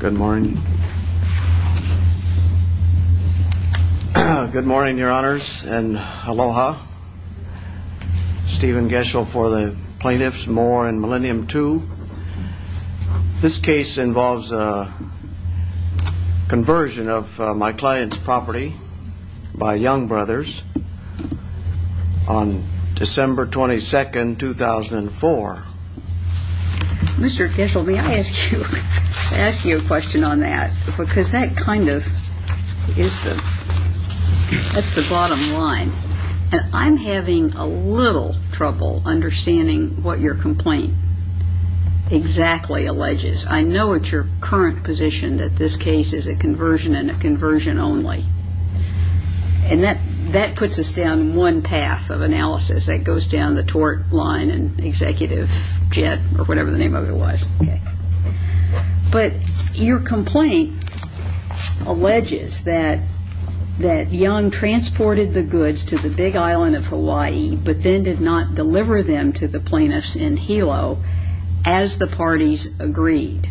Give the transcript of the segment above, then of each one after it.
Good morning. Good morning, your honors, and aloha. Stephen Geschel for the plaintiffs, Moore and Millennium II. This case involves a conversion of my client's property by Young Brothers on December 22, 2004. Mr. Geschel, may I ask you a question on that? Because that kind of is the bottom line. I'm having a little trouble understanding what your complaint exactly alleges. I know at your current position that this case is a conversion and a conversion only. And that puts us down one path of analysis. That goes down the tort line and executive jet or whatever the name of it was. But your complaint alleges that Young transported the goods to the Big Island of Hawaii but then did not deliver them to the plaintiffs in Hilo as the parties agreed.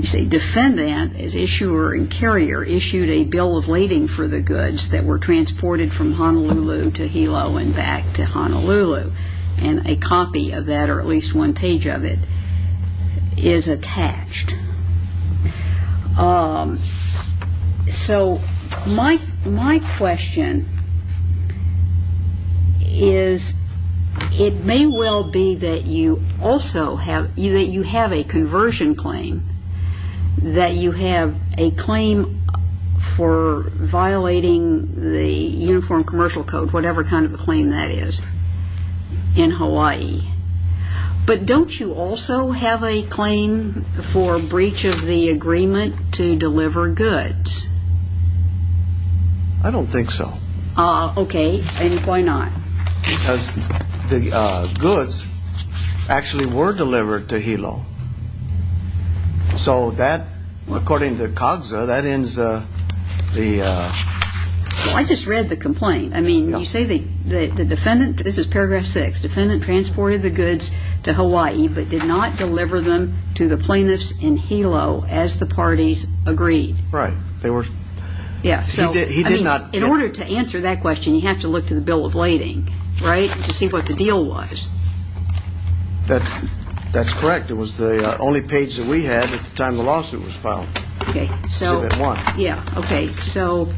The defendant, as issuer and carrier, issued a bill of lading for the goods that were transported from Honolulu to Hilo and back to Honolulu. And a copy of that, or at least one page of it, is attached. So my question is, it may well be that you have a conversion claim, that you have a claim for violating the Uniform Commercial Code, whatever kind of a claim that is, in Hawaii. But don't you also have a claim for breach of the agreement to deliver goods? I don't think so. Okay. And why not? Because the goods actually were delivered to Hilo. So that, according to COGSA, that ends the... I just read the complaint. I mean, you say the defendant, this is paragraph 6, the defendant transported the goods to Hawaii but did not deliver them to the plaintiffs in Hilo as the parties agreed. Right. In order to answer that question, you have to look to the bill of lading, right, to see what the deal was. That's correct. Yeah, okay. So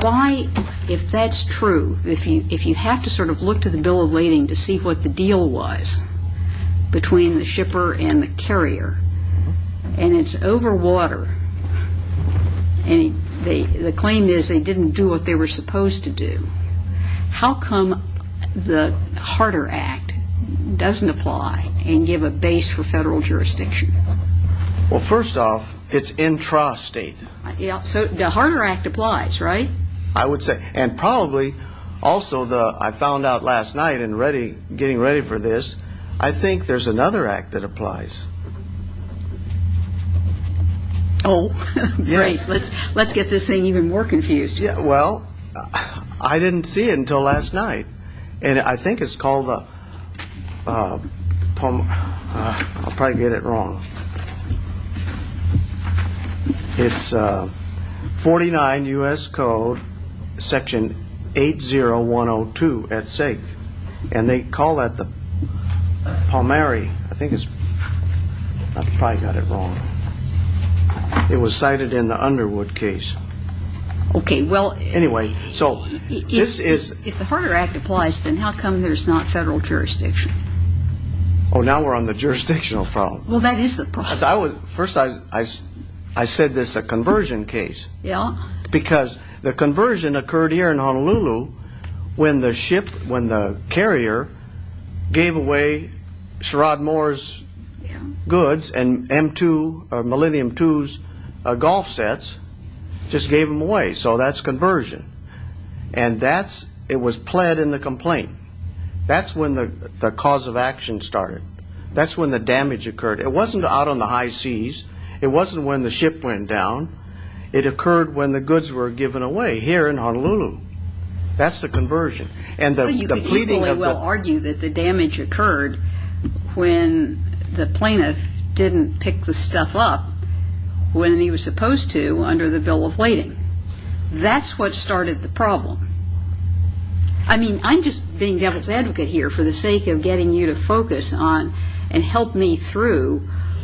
why, if that's true, if you have to sort of look to the bill of lading to see what the deal was between the shipper and the carrier, and it's over water, and the claim is they didn't do what they were supposed to do, how come the Harder Act doesn't apply and give a base for federal jurisdiction? Well, first off, it's intrastate. Yeah, so the Harder Act applies, right? I would say. And probably also the, I found out last night in getting ready for this, I think there's another act that applies. Oh, great. Let's get this thing even more confused. Well, I didn't see it until last night, and I think it's called the, I'll probably get it wrong. It's 49 U.S. Code section 80102 at sake, and they call that the Palmieri. I think it's, I probably got it wrong. It was cited in the Underwood case. Okay, well. Anyway, so this is. If the Harder Act applies, then how come there's not federal jurisdiction? Oh, now we're on the jurisdictional front. Well, that is the problem. First, I said this is a conversion case. Yeah. Because the conversion occurred here in Honolulu when the ship, when the carrier gave away Sherrod Moore's goods and M2, or Millennium 2's golf sets, just gave them away. So that's conversion. And that's, it was pled in the complaint. That's when the cause of action started. That's when the damage occurred. It wasn't out on the high seas. It wasn't when the ship went down. It occurred when the goods were given away here in Honolulu. That's the conversion. Well, you could equally well argue that the damage occurred when the plaintiff didn't pick the stuff up when he was supposed to under the bill of lading. That's what started the problem. I mean, I'm just being devil's advocate here for the sake of getting you to focus on and help me through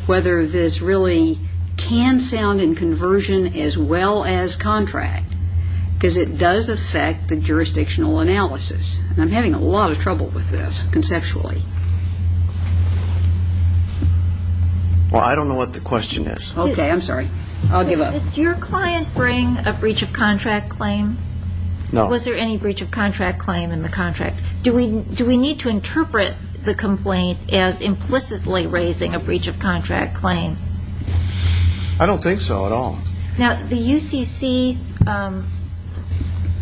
whether this really can sound in conversion as well as contract. Because it does affect the jurisdictional analysis. And I'm having a lot of trouble with this conceptually. Well, I don't know what the question is. Okay, I'm sorry. I'll give up. Did your client bring a breach of contract claim? No. Was there any breach of contract claim in the contract? Do we need to interpret the complaint as implicitly raising a breach of contract claim? I don't think so at all. Now, the UCC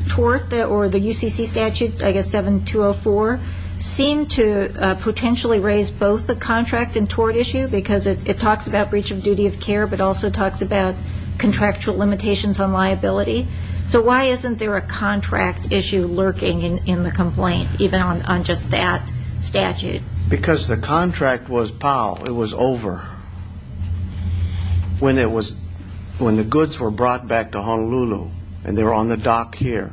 tort or the UCC statute, I guess 7204, seemed to potentially raise both the contract and tort issue because it talks about breach of duty of care, but also talks about contractual limitations on liability. So why isn't there a contract issue lurking in the complaint, even on just that statute? Because the contract was PAO. It was over when the goods were brought back to Honolulu and they were on the dock here.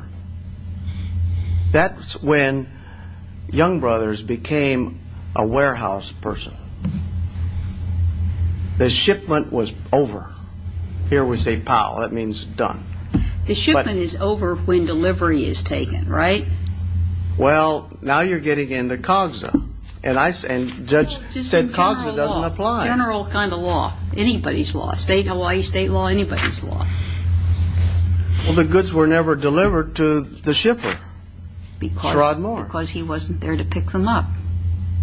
That's when Young Brothers became a warehouse person. The shipment was over. Here we say PAO. That means done. The shipment is over when delivery is taken, right? Well, now you're getting into COGSA. And Judge said COGSA doesn't apply. General kind of law. Anybody's law. State, Hawaii state law. Anybody's law. Well, the goods were never delivered to the shipper. Because he wasn't there to pick them up.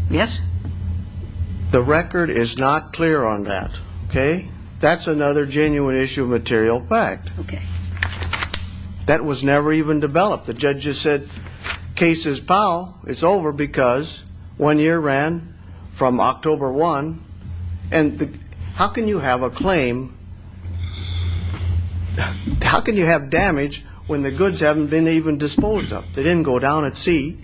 Yes? The record is not clear on that. Okay? That's another genuine issue of material fact. Okay. That was never even developed. The judges said case is PAO. It's over because one year ran from October 1. And how can you have a claim? How can you have damage when the goods haven't been even disposed of? They didn't go down at sea.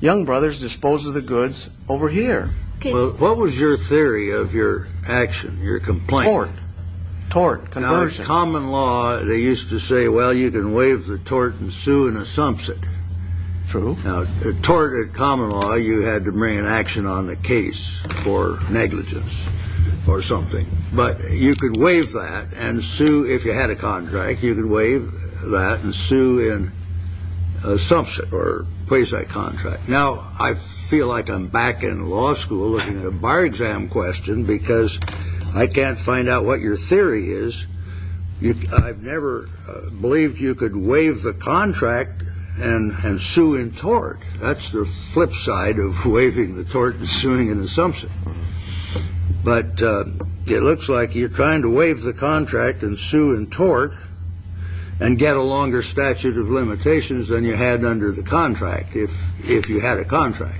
Young Brothers disposed of the goods over here. What was your theory of your action, your complaint? Tort. Conversion. In common law, they used to say, well, you can waive the tort and sue in a sumpsit. True. Now, a tort in common law, you had to bring an action on the case for negligence or something. But you could waive that and sue if you had a contract. You could waive that and sue in a sumpsit or place that contract. Now, I feel like I'm back in law school looking at a bar exam question because I can't find out what your theory is. I've never believed you could waive the contract and sue in tort. That's the flip side of waiving the tort and suing an assumption. But it looks like you're trying to waive the contract and sue in tort and get a longer statute of limitations than you had under the contract. If if you had a contract,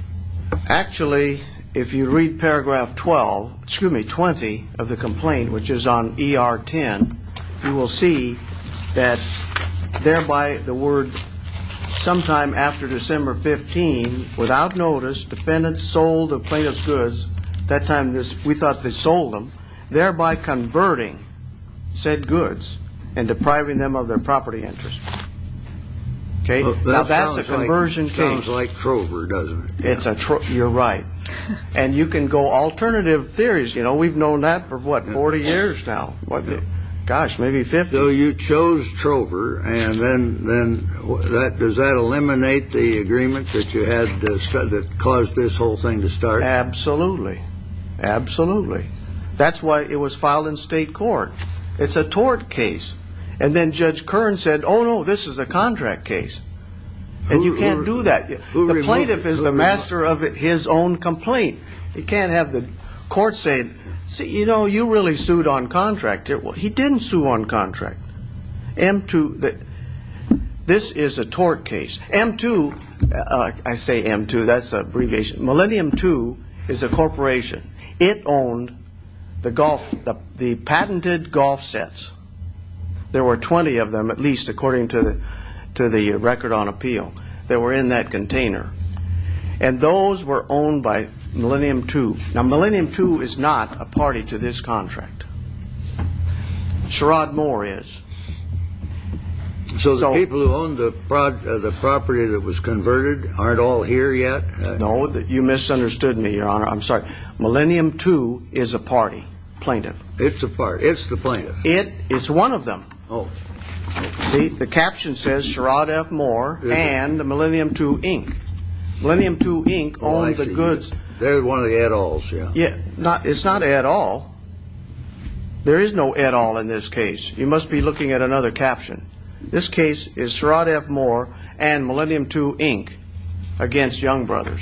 actually, if you read paragraph 12, excuse me, 20 of the complaint, which is on E.R. 10, you will see that thereby the word sometime after December 15, without notice, defendants sold a plaintiff's goods. That time, we thought they sold them, thereby converting said goods and depriving them of their property interest. OK, well, that's a conversion case like Trover, doesn't it? It's a truck. You're right. And you can go alternative theories. You know, we've known that for what? Forty years now. What? Gosh, maybe 50. You chose Trover. And then then that does that eliminate the agreement that you had that caused this whole thing to start? Absolutely. Absolutely. That's why it was filed in state court. It's a tort case. And then Judge Kern said, oh, no, this is a contract case. And you can't do that. The plaintiff is the master of his own complaint. You can't have the court saying, you know, you really sued on contract. He didn't sue on contract. M2. This is a tort case. M2. I say M2. That's abbreviation. Millennium 2 is a corporation. It owned the golf, the patented golf sets. There were 20 of them, at least according to the to the record on appeal. They were in that container. And those were owned by Millennium 2. Now, Millennium 2 is not a party to this contract. Sherrod Moore is. So people who own the product of the property that was converted aren't all here yet. No, you misunderstood me, Your Honor. I'm sorry. Millennium 2 is a party plaintiff. It's a party. It's the plaintiff. It is one of them. Oh, the caption says Sherrod F. Moore and the Millennium 2 Inc. Millennium 2 Inc. All the goods. There's one of the adults. Yeah. It's not at all. There is no at all in this case. You must be looking at another caption. This case is Sherrod F. Moore and Millennium 2 Inc. against Young Brothers.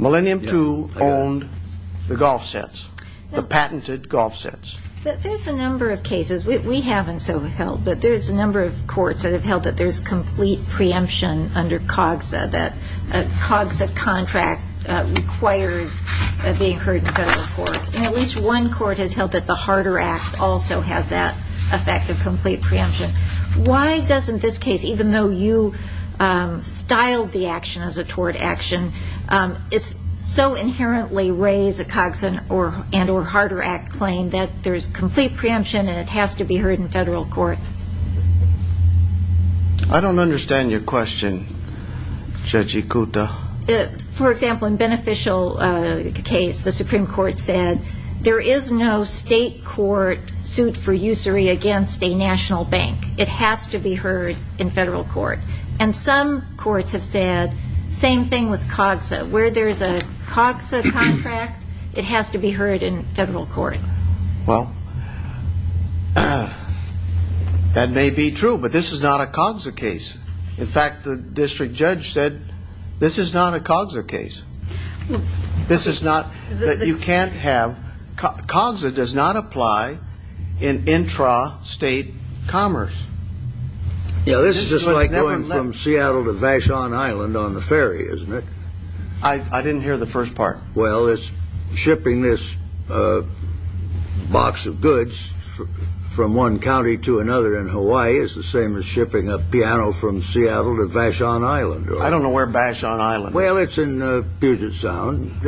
Millennium 2 owned the golf sets, the patented golf sets. There's a number of cases we haven't so held, but there's a number of courts that have held that there's complete preemption under COGSA, that COGSA contract requires being heard in federal courts. At least one court has held that the Harder Act also has that effect of complete preemption. Why doesn't this case, even though you styled the action as a tort action, so inherently raise a COGSA and or Harder Act claim that there's complete preemption and it has to be heard in federal court? I don't understand your question, Judge Ikuta. For example, in Beneficial case, the Supreme Court said there is no state court suit for usury against a national bank. It has to be heard in federal court. And some courts have said same thing with COGSA. Where there's a COGSA contract, it has to be heard in federal court. Well, that may be true, but this is not a COGSA case. In fact, the district judge said this is not a COGSA case. This is not that you can't have COGSA does not apply in intra state commerce. You know, this is just like going from Seattle to Vashon Island on the ferry, isn't it? I didn't hear the first part. Well, it's shipping this box of goods from one county to another in Hawaii is the same as shipping a piano from Seattle to Vashon Island. I don't know where Vashon Island. Well, it's in Puget Sound.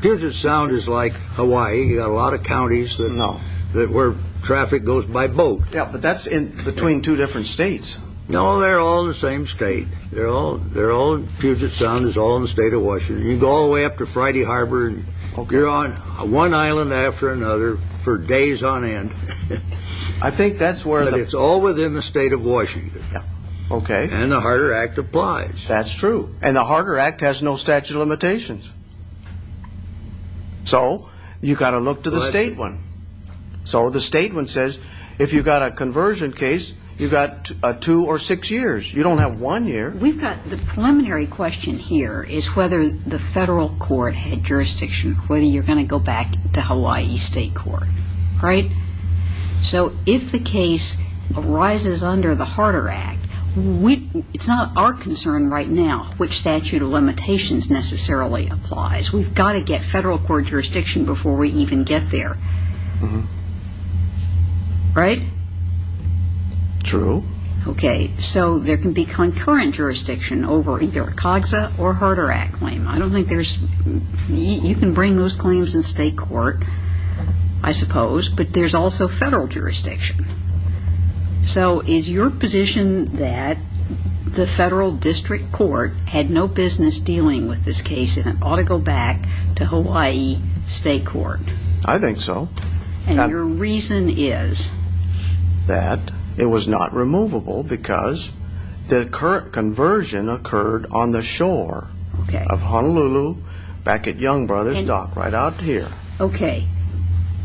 Puget Sound is like Hawaii. You got a lot of counties that know that where traffic goes by boat. Yeah, but that's in between two different states. No, they're all the same state. They're all they're all Puget Sound is all in the state of Washington. You go all the way up to Friday Harbor and you're on one island after another for days on end. I think that's where it's all within the state of Washington. OK. And the Harder Act applies. That's true. And the Harder Act has no statute of limitations. So you've got to look to the state one. So the statement says if you've got a conversion case, you've got two or six years. You don't have one year. We've got the preliminary question here is whether the federal court had jurisdiction, whether you're going to go back to Hawaii state court. All right. So if the case arises under the Harder Act, we it's not our concern right now which statute of limitations necessarily applies. We've got to get federal court jurisdiction before we even get there. Right. True. OK. So there can be concurrent jurisdiction over either COGSA or Harder Act claim. I don't think there's you can bring those claims in state court, I suppose. But there's also federal jurisdiction. So is your position that the federal district court had no business dealing with this case and it ought to go back to Hawaii state court? I think so. And your reason is? That it was not removable because the current conversion occurred on the shore of Honolulu back at Young Brothers Dock right out here. OK.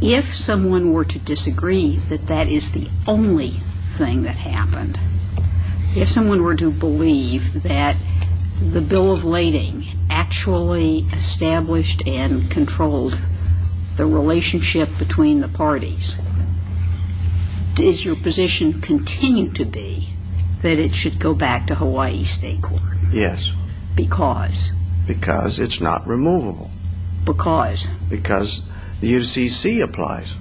If someone were to disagree that that is the only thing that happened, if someone were to believe that the bill of lading actually established and controlled the relationship between the parties, does your position continue to be that it should go back to Hawaii state court? Yes. Because? Because it's not removable. Because? Because the UCC applies.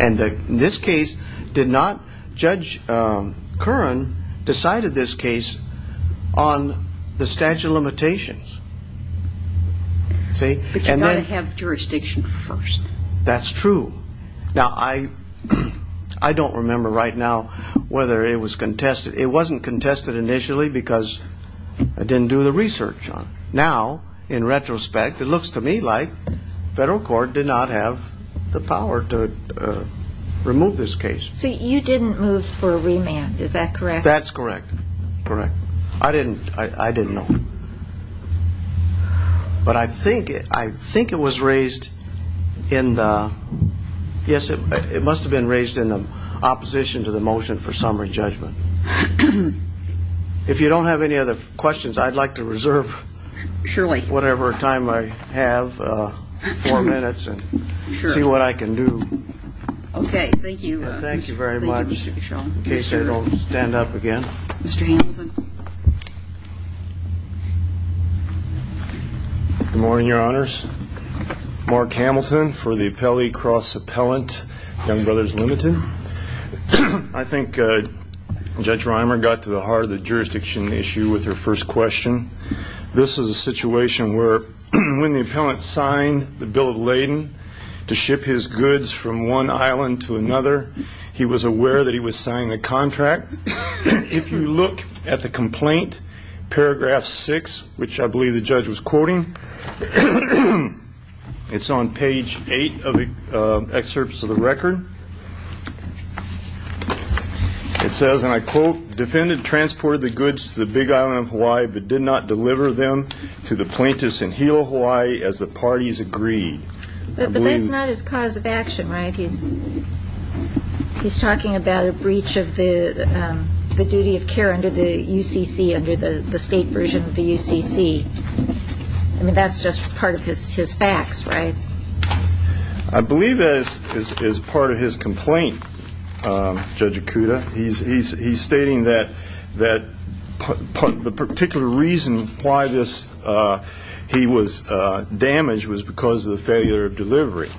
And this case did not. Judge Curran decided this case on the statute of limitations. See, you got to have jurisdiction first. That's true. Now, I don't remember right now whether it was contested. It wasn't contested initially because I didn't do the research. Now, in retrospect, it looks to me like federal court did not have the power to remove this case. So you didn't move for a remand. Is that correct? That's correct. Correct. I didn't I didn't know. But I think I think it was raised in the. Yes, it must have been raised in the opposition to the motion for summary judgment. If you don't have any other questions, I'd like to reserve. Surely. Whatever time I have four minutes and see what I can do. OK. Thank you. Thank you very much. Stand up again. Morning, your honors. Mark Hamilton for the appellee cross appellant. Young Brothers Limited. I think Judge Reimer got to the heart of the jurisdiction issue with her first question. This is a situation where when the appellant signed the bill of laden to ship his goods from one island to another, he was aware that he was signing a contract. If you look at the complaint, paragraph six, which I believe the judge was quoting, it's on page eight of the excerpts of the record. It says, and I quote, defendant transported the goods to the Big Island of Hawaii, but did not deliver them to the plaintiffs in Hilo, Hawaii, as the parties agreed. But that's not his cause of action, right? He's he's talking about a breach of the duty of care under the UCC, under the state version of the UCC. I mean, that's just part of his his facts, right? I believe this is part of his complaint. Judge Akuda. He's he's he's stating that that the particular reason why this he was damaged was because of the failure of delivery.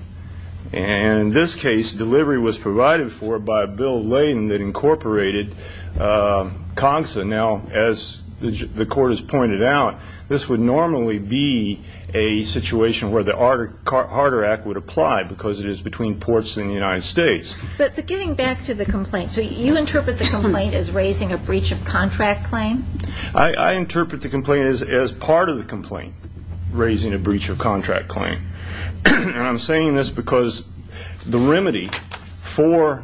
And in this case, delivery was provided for by a bill laden that incorporated CONSA. Now, as the court has pointed out, this would normally be a situation where the Art Carter Act would apply because it is between ports in the United States. But getting back to the complaint. So you interpret the complaint as raising a breach of contract claim. I interpret the complaint as as part of the complaint, raising a breach of contract claim. I'm saying this because the remedy for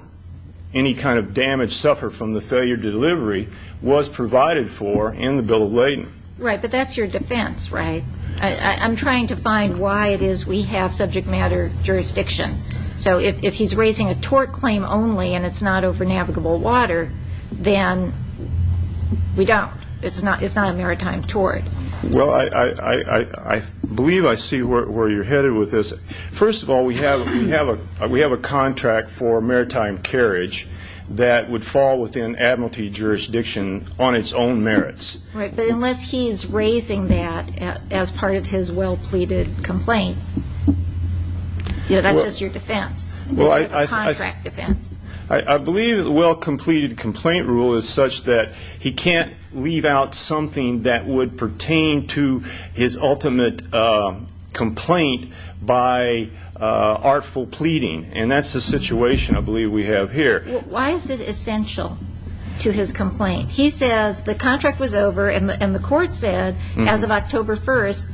any kind of damage suffered from the failure to delivery was provided for in the bill of laden. Right. But that's your defense, right? I'm trying to find why it is we have subject matter jurisdiction. So if he's raising a tort claim only and it's not over navigable water, then we don't. It's not it's not a maritime tort. Well, I believe I see where you're headed with this. First of all, we have we have a we have a contract for maritime carriage that would fall within admiralty jurisdiction on its own merits. Right. But unless he's raising that as part of his well pleaded complaint. You know, that's just your defense. Well, I contract defense. I believe the well completed complaint rule is such that he can't leave out something that would pertain to his ultimate complaint by artful pleading. And that's the situation I believe we have here. Why is it essential to his complaint? He says the contract was over and the court said as of October 1st,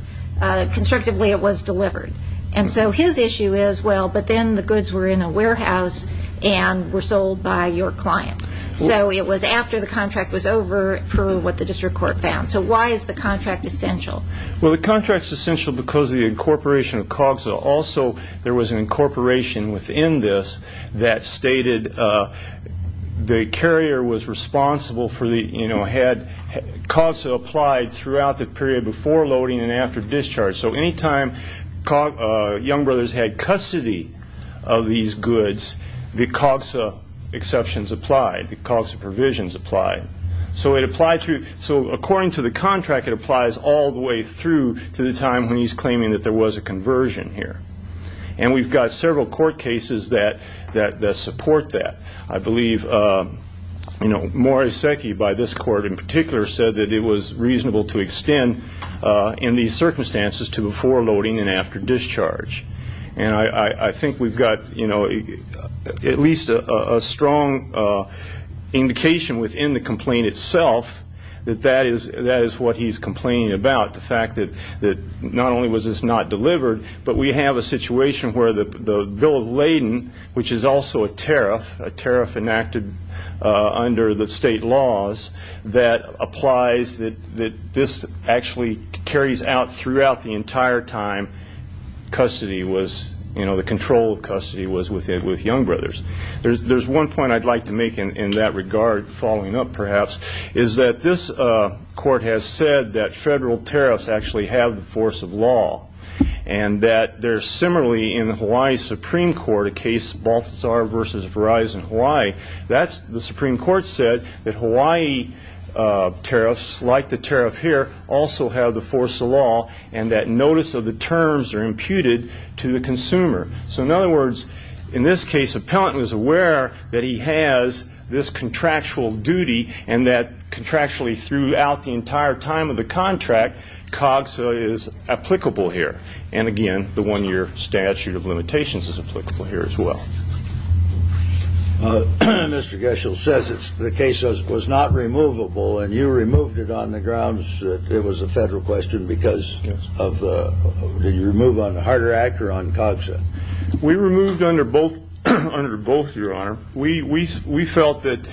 constructively, it was delivered. And so his issue is, well, but then the goods were in a warehouse and were sold by your client. So it was after the contract was over for what the district court found. So why is the contract essential? Well, the contract is essential because the incorporation of COGSA. Also, there was an incorporation within this that stated the carrier was responsible for the, you know, had COGSA applied throughout the period before loading and after discharge. So any time young brothers had custody of these goods, the COGSA exceptions applied, the COGSA provisions applied. So it applied through. So according to the contract, it applies all the way through to the time when he's claiming that there was a conversion here. And we've got several court cases that that that support that. I believe, you know, Moriseki by this court in particular said that it was reasonable to extend in these circumstances to before loading and after discharge. And I think we've got, you know, at least a strong indication within the complaint itself that that is that is what he's complaining about. The fact that that not only was this not delivered, but we have a situation where the bill of laden, which is also a tariff, a tariff enacted under the state laws that applies that this actually carries out throughout the entire time. Custody was, you know, the control of custody was within with young brothers. There's one point I'd like to make in that regard. Following up, perhaps, is that this court has said that federal tariffs actually have the force of law and that they're similarly in the Hawaii Supreme Court, a case Baltazar versus Verizon Hawaii. That's the Supreme Court said that Hawaii tariffs like the tariff here also have the force of law and that notice of the terms are imputed to the consumer. So, in other words, in this case, appellant was aware that he has this contractual duty and that contractually throughout the entire time of the contract. COGSA is applicable here. And again, the one year statute of limitations is applicable here as well. Mr. Gershel says it's the case was not removable and you removed it on the grounds that it was a federal question because of the move on a harder actor on COGSA. We removed under both under both your honor. We we we felt that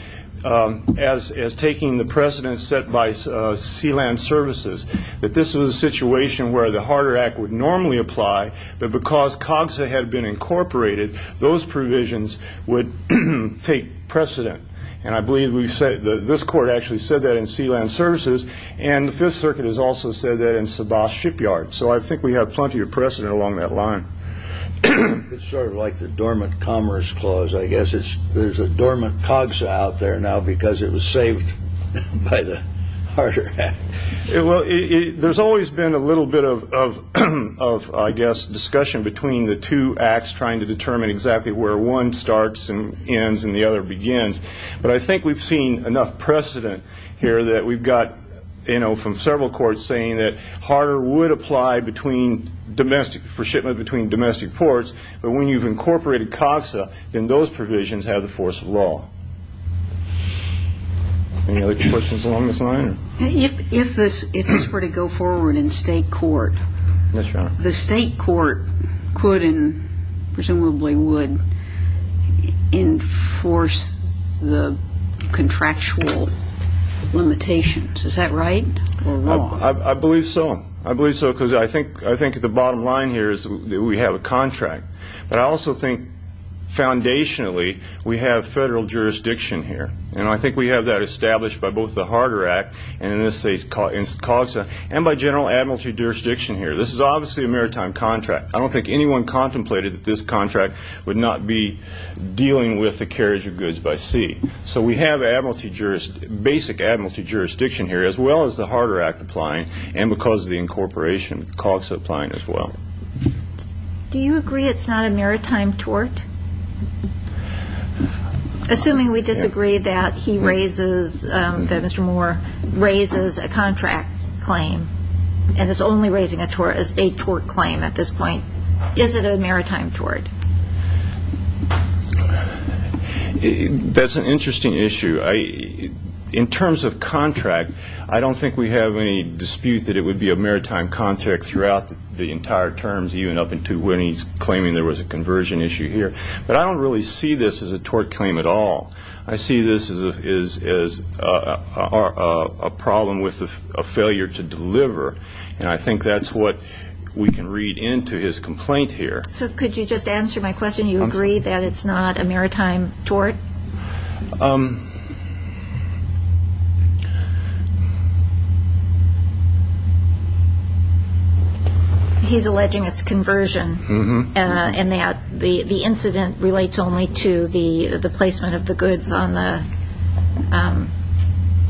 as as taking the precedent set by sealant services, that this was a situation where the harder act would normally apply, but because COGSA had been incorporated, those provisions would take precedent. And I believe we've said that this court actually said that in sealant services. And the Fifth Circuit has also said that in Sabah shipyard. So I think we have plenty of precedent along that line. It's sort of like the dormant commerce clause, I guess. It's there's a dormant COGSA out there now because it was saved by the harder. Well, there's always been a little bit of of of, I guess, discussion between the two acts trying to determine exactly where one starts and ends and the other begins. But I think we've seen enough precedent here that we've got, you know, from several courts saying that harder would apply between domestic for shipment between domestic ports. But when you've incorporated COGSA, then those provisions have the force of law. Any other questions along this line? If this were to go forward in state court, the state court could and presumably would enforce the contractual limitations. Is that right? I believe so. I believe so, because I think I think the bottom line here is that we have a contract. But I also think foundationally, we have federal jurisdiction here. And I think we have that established by both the harder act. And in this case, COGSA and by general admiralty jurisdiction here. This is obviously a maritime contract. I don't think anyone contemplated that this contract would not be dealing with the carriage of goods by sea. So we have admiralty jurisdiction, basic admiralty jurisdiction here, as well as the harder act applying. And because of the incorporation, COGSA applying as well. Do you agree it's not a maritime tort? Assuming we disagree that he raises, that Mr. Moore raises a contract claim and is only raising a tort claim at this point. Is it a maritime tort? That's an interesting issue. In terms of contract, I don't think we have any dispute that it would be a maritime contract throughout the entire terms, even up until when he's claiming there was a conversion issue here. But I don't really see this as a tort claim at all. I see this as a problem with a failure to deliver. And I think that's what we can read into his complaint here. So could you just answer my question? You agree that it's not a maritime tort? He's alleging it's conversion and that the incident relates only to the placement of the goods on the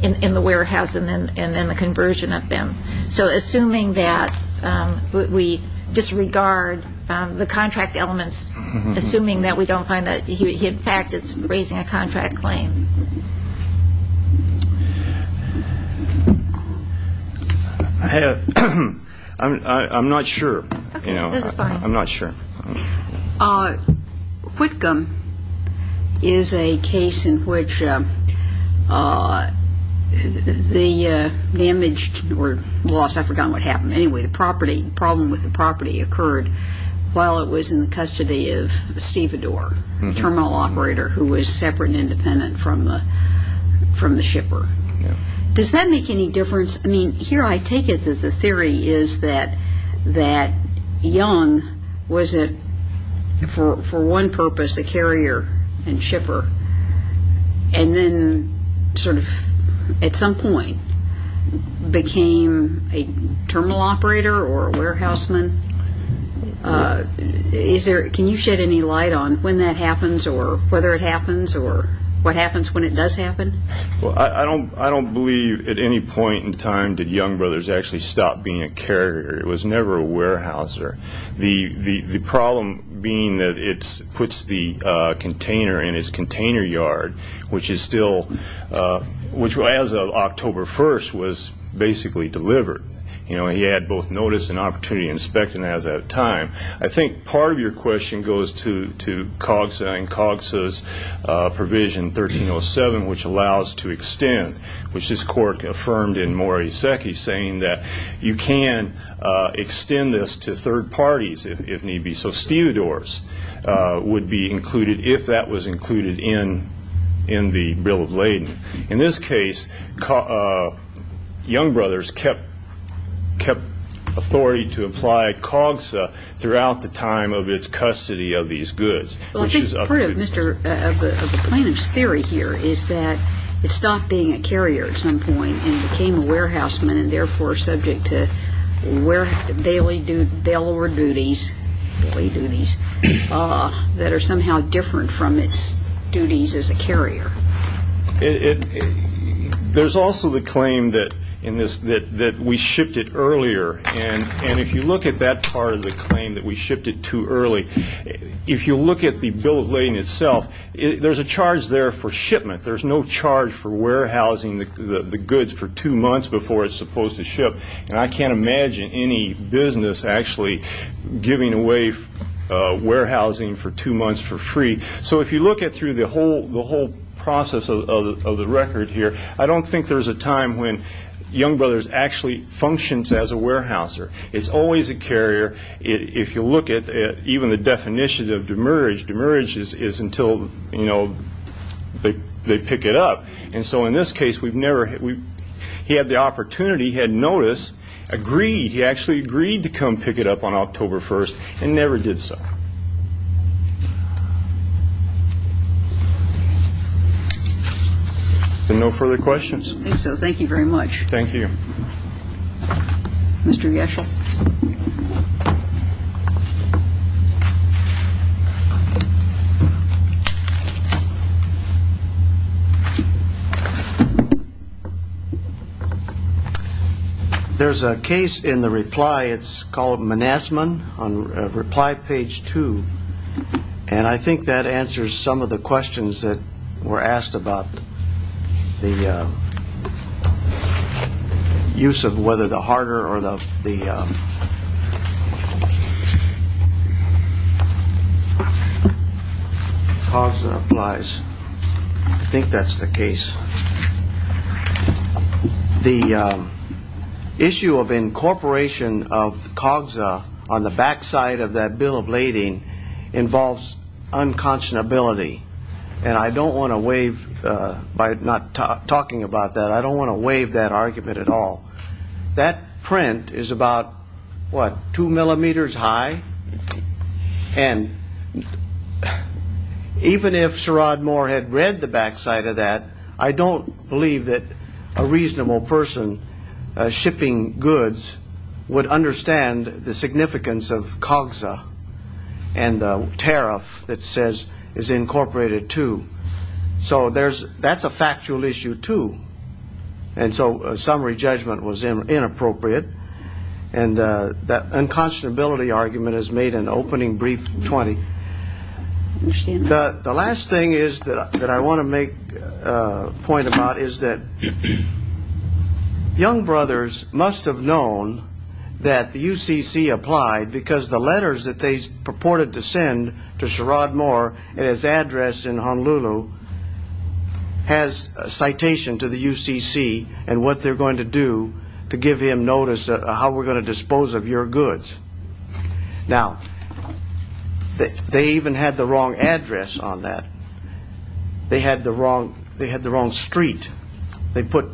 in the warehouse and then the conversion of them. So assuming that we disregard the contract elements, assuming that we don't find that he in fact is raising a contract claim. I'm not sure. I'm not sure. Whitcomb is a case in which the damaged or lost. I forgot what happened. Anyway, the property problem with the property occurred while it was in custody of Steve Adore, a terminal operator who was separate and independent from the shipper. Does that make any difference? I mean, here I take it that the theory is that Young was for one purpose a carrier and shipper and then sort of at some point became a terminal operator or a warehouse man. Can you shed any light on when that happens or whether it happens or what happens when it does happen? Well, I don't I don't believe at any point in time did Young Brothers actually stop being a carrier. It was never a warehouser. The problem being that it's puts the container in his container yard, which is still which as of October 1st was basically delivered. You know, he had both notice and opportunity inspecting as at a time. I think part of your question goes to to Cox and Cox's provision 1307, which allows to extend, which is Cork affirmed in more. He's saying that you can extend this to third parties if need be. So Steve Adore's would be included if that was included in in the bill of laden. In this case, Young Brothers kept kept authority to apply Cogs throughout the time of its custody of these goods. There's also the claim that in this that that we shipped it earlier. And if you look at that part of the claim that we shipped it too early, if you look at the bill of laden itself, there's a charge there for shipment. There's no charge for warehousing the goods for two months before it's supposed to ship. And I can't imagine any business actually giving away warehousing for two months for free. So if you look at through the whole process of the record here, I don't think there's a time when Young Brothers actually functions as a warehouser. It's always a carrier. If you look at even the definition of demerge, demerge is until they pick it up. And so in this case, we've never had we had the opportunity had notice agreed. He actually agreed to come pick it up on October 1st and never did so. No further questions. So thank you very much. Thank you, Mr. Yes. There's a case in the reply. It's called Manasman on reply page two. And I think that answers some of the questions that were asked about the use of whether the harder or the. I think that's the case. The issue of incorporation of COGS on the backside of that bill of lading involves unconscionability. And I don't want to waive by not talking about that. I don't want to waive that argument at all. But that print is about what, two millimeters high. And even if Sherrod Moore had read the backside of that, I don't believe that a reasonable person shipping goods would understand the significance of COGS and the tariff that says is incorporated, too. So there's that's a factual issue, too. And so summary judgment was inappropriate. And that unconscionability argument has made an opening brief 20. The last thing is that I want to make a point about is that young brothers must have known that the UCC applied because the letters that they purported to send to Sherrod Moore and his address in Honolulu has a citation to the UCC and what they're going to do to give him notice of how we're going to dispose of your goods. Now, they even had the wrong address on that. They had the wrong they had the wrong street. They put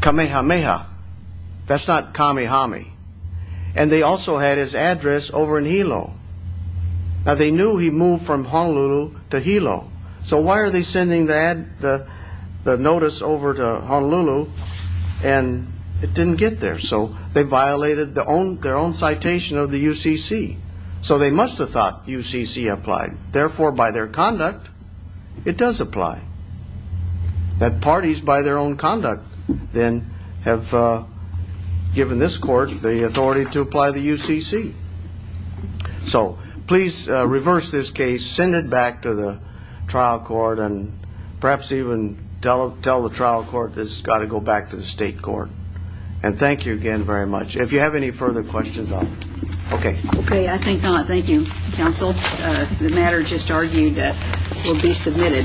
Kamehameha. That's not Kamehameha. And they also had his address over in Hilo. Now, they knew he moved from Honolulu to Hilo. So why are they sending the notice over to Honolulu? And it didn't get there. So they violated their own citation of the UCC. So they must have thought UCC applied. Therefore, by their conduct, it does apply. That parties, by their own conduct, then have given this court the authority to apply the UCC. So please reverse this case, send it back to the trial court and perhaps even tell tell the trial court this has got to go back to the state court. And thank you again very much. If you have any further questions. OK. OK. I think. Thank you, counsel. The matter just argued that will be submitted.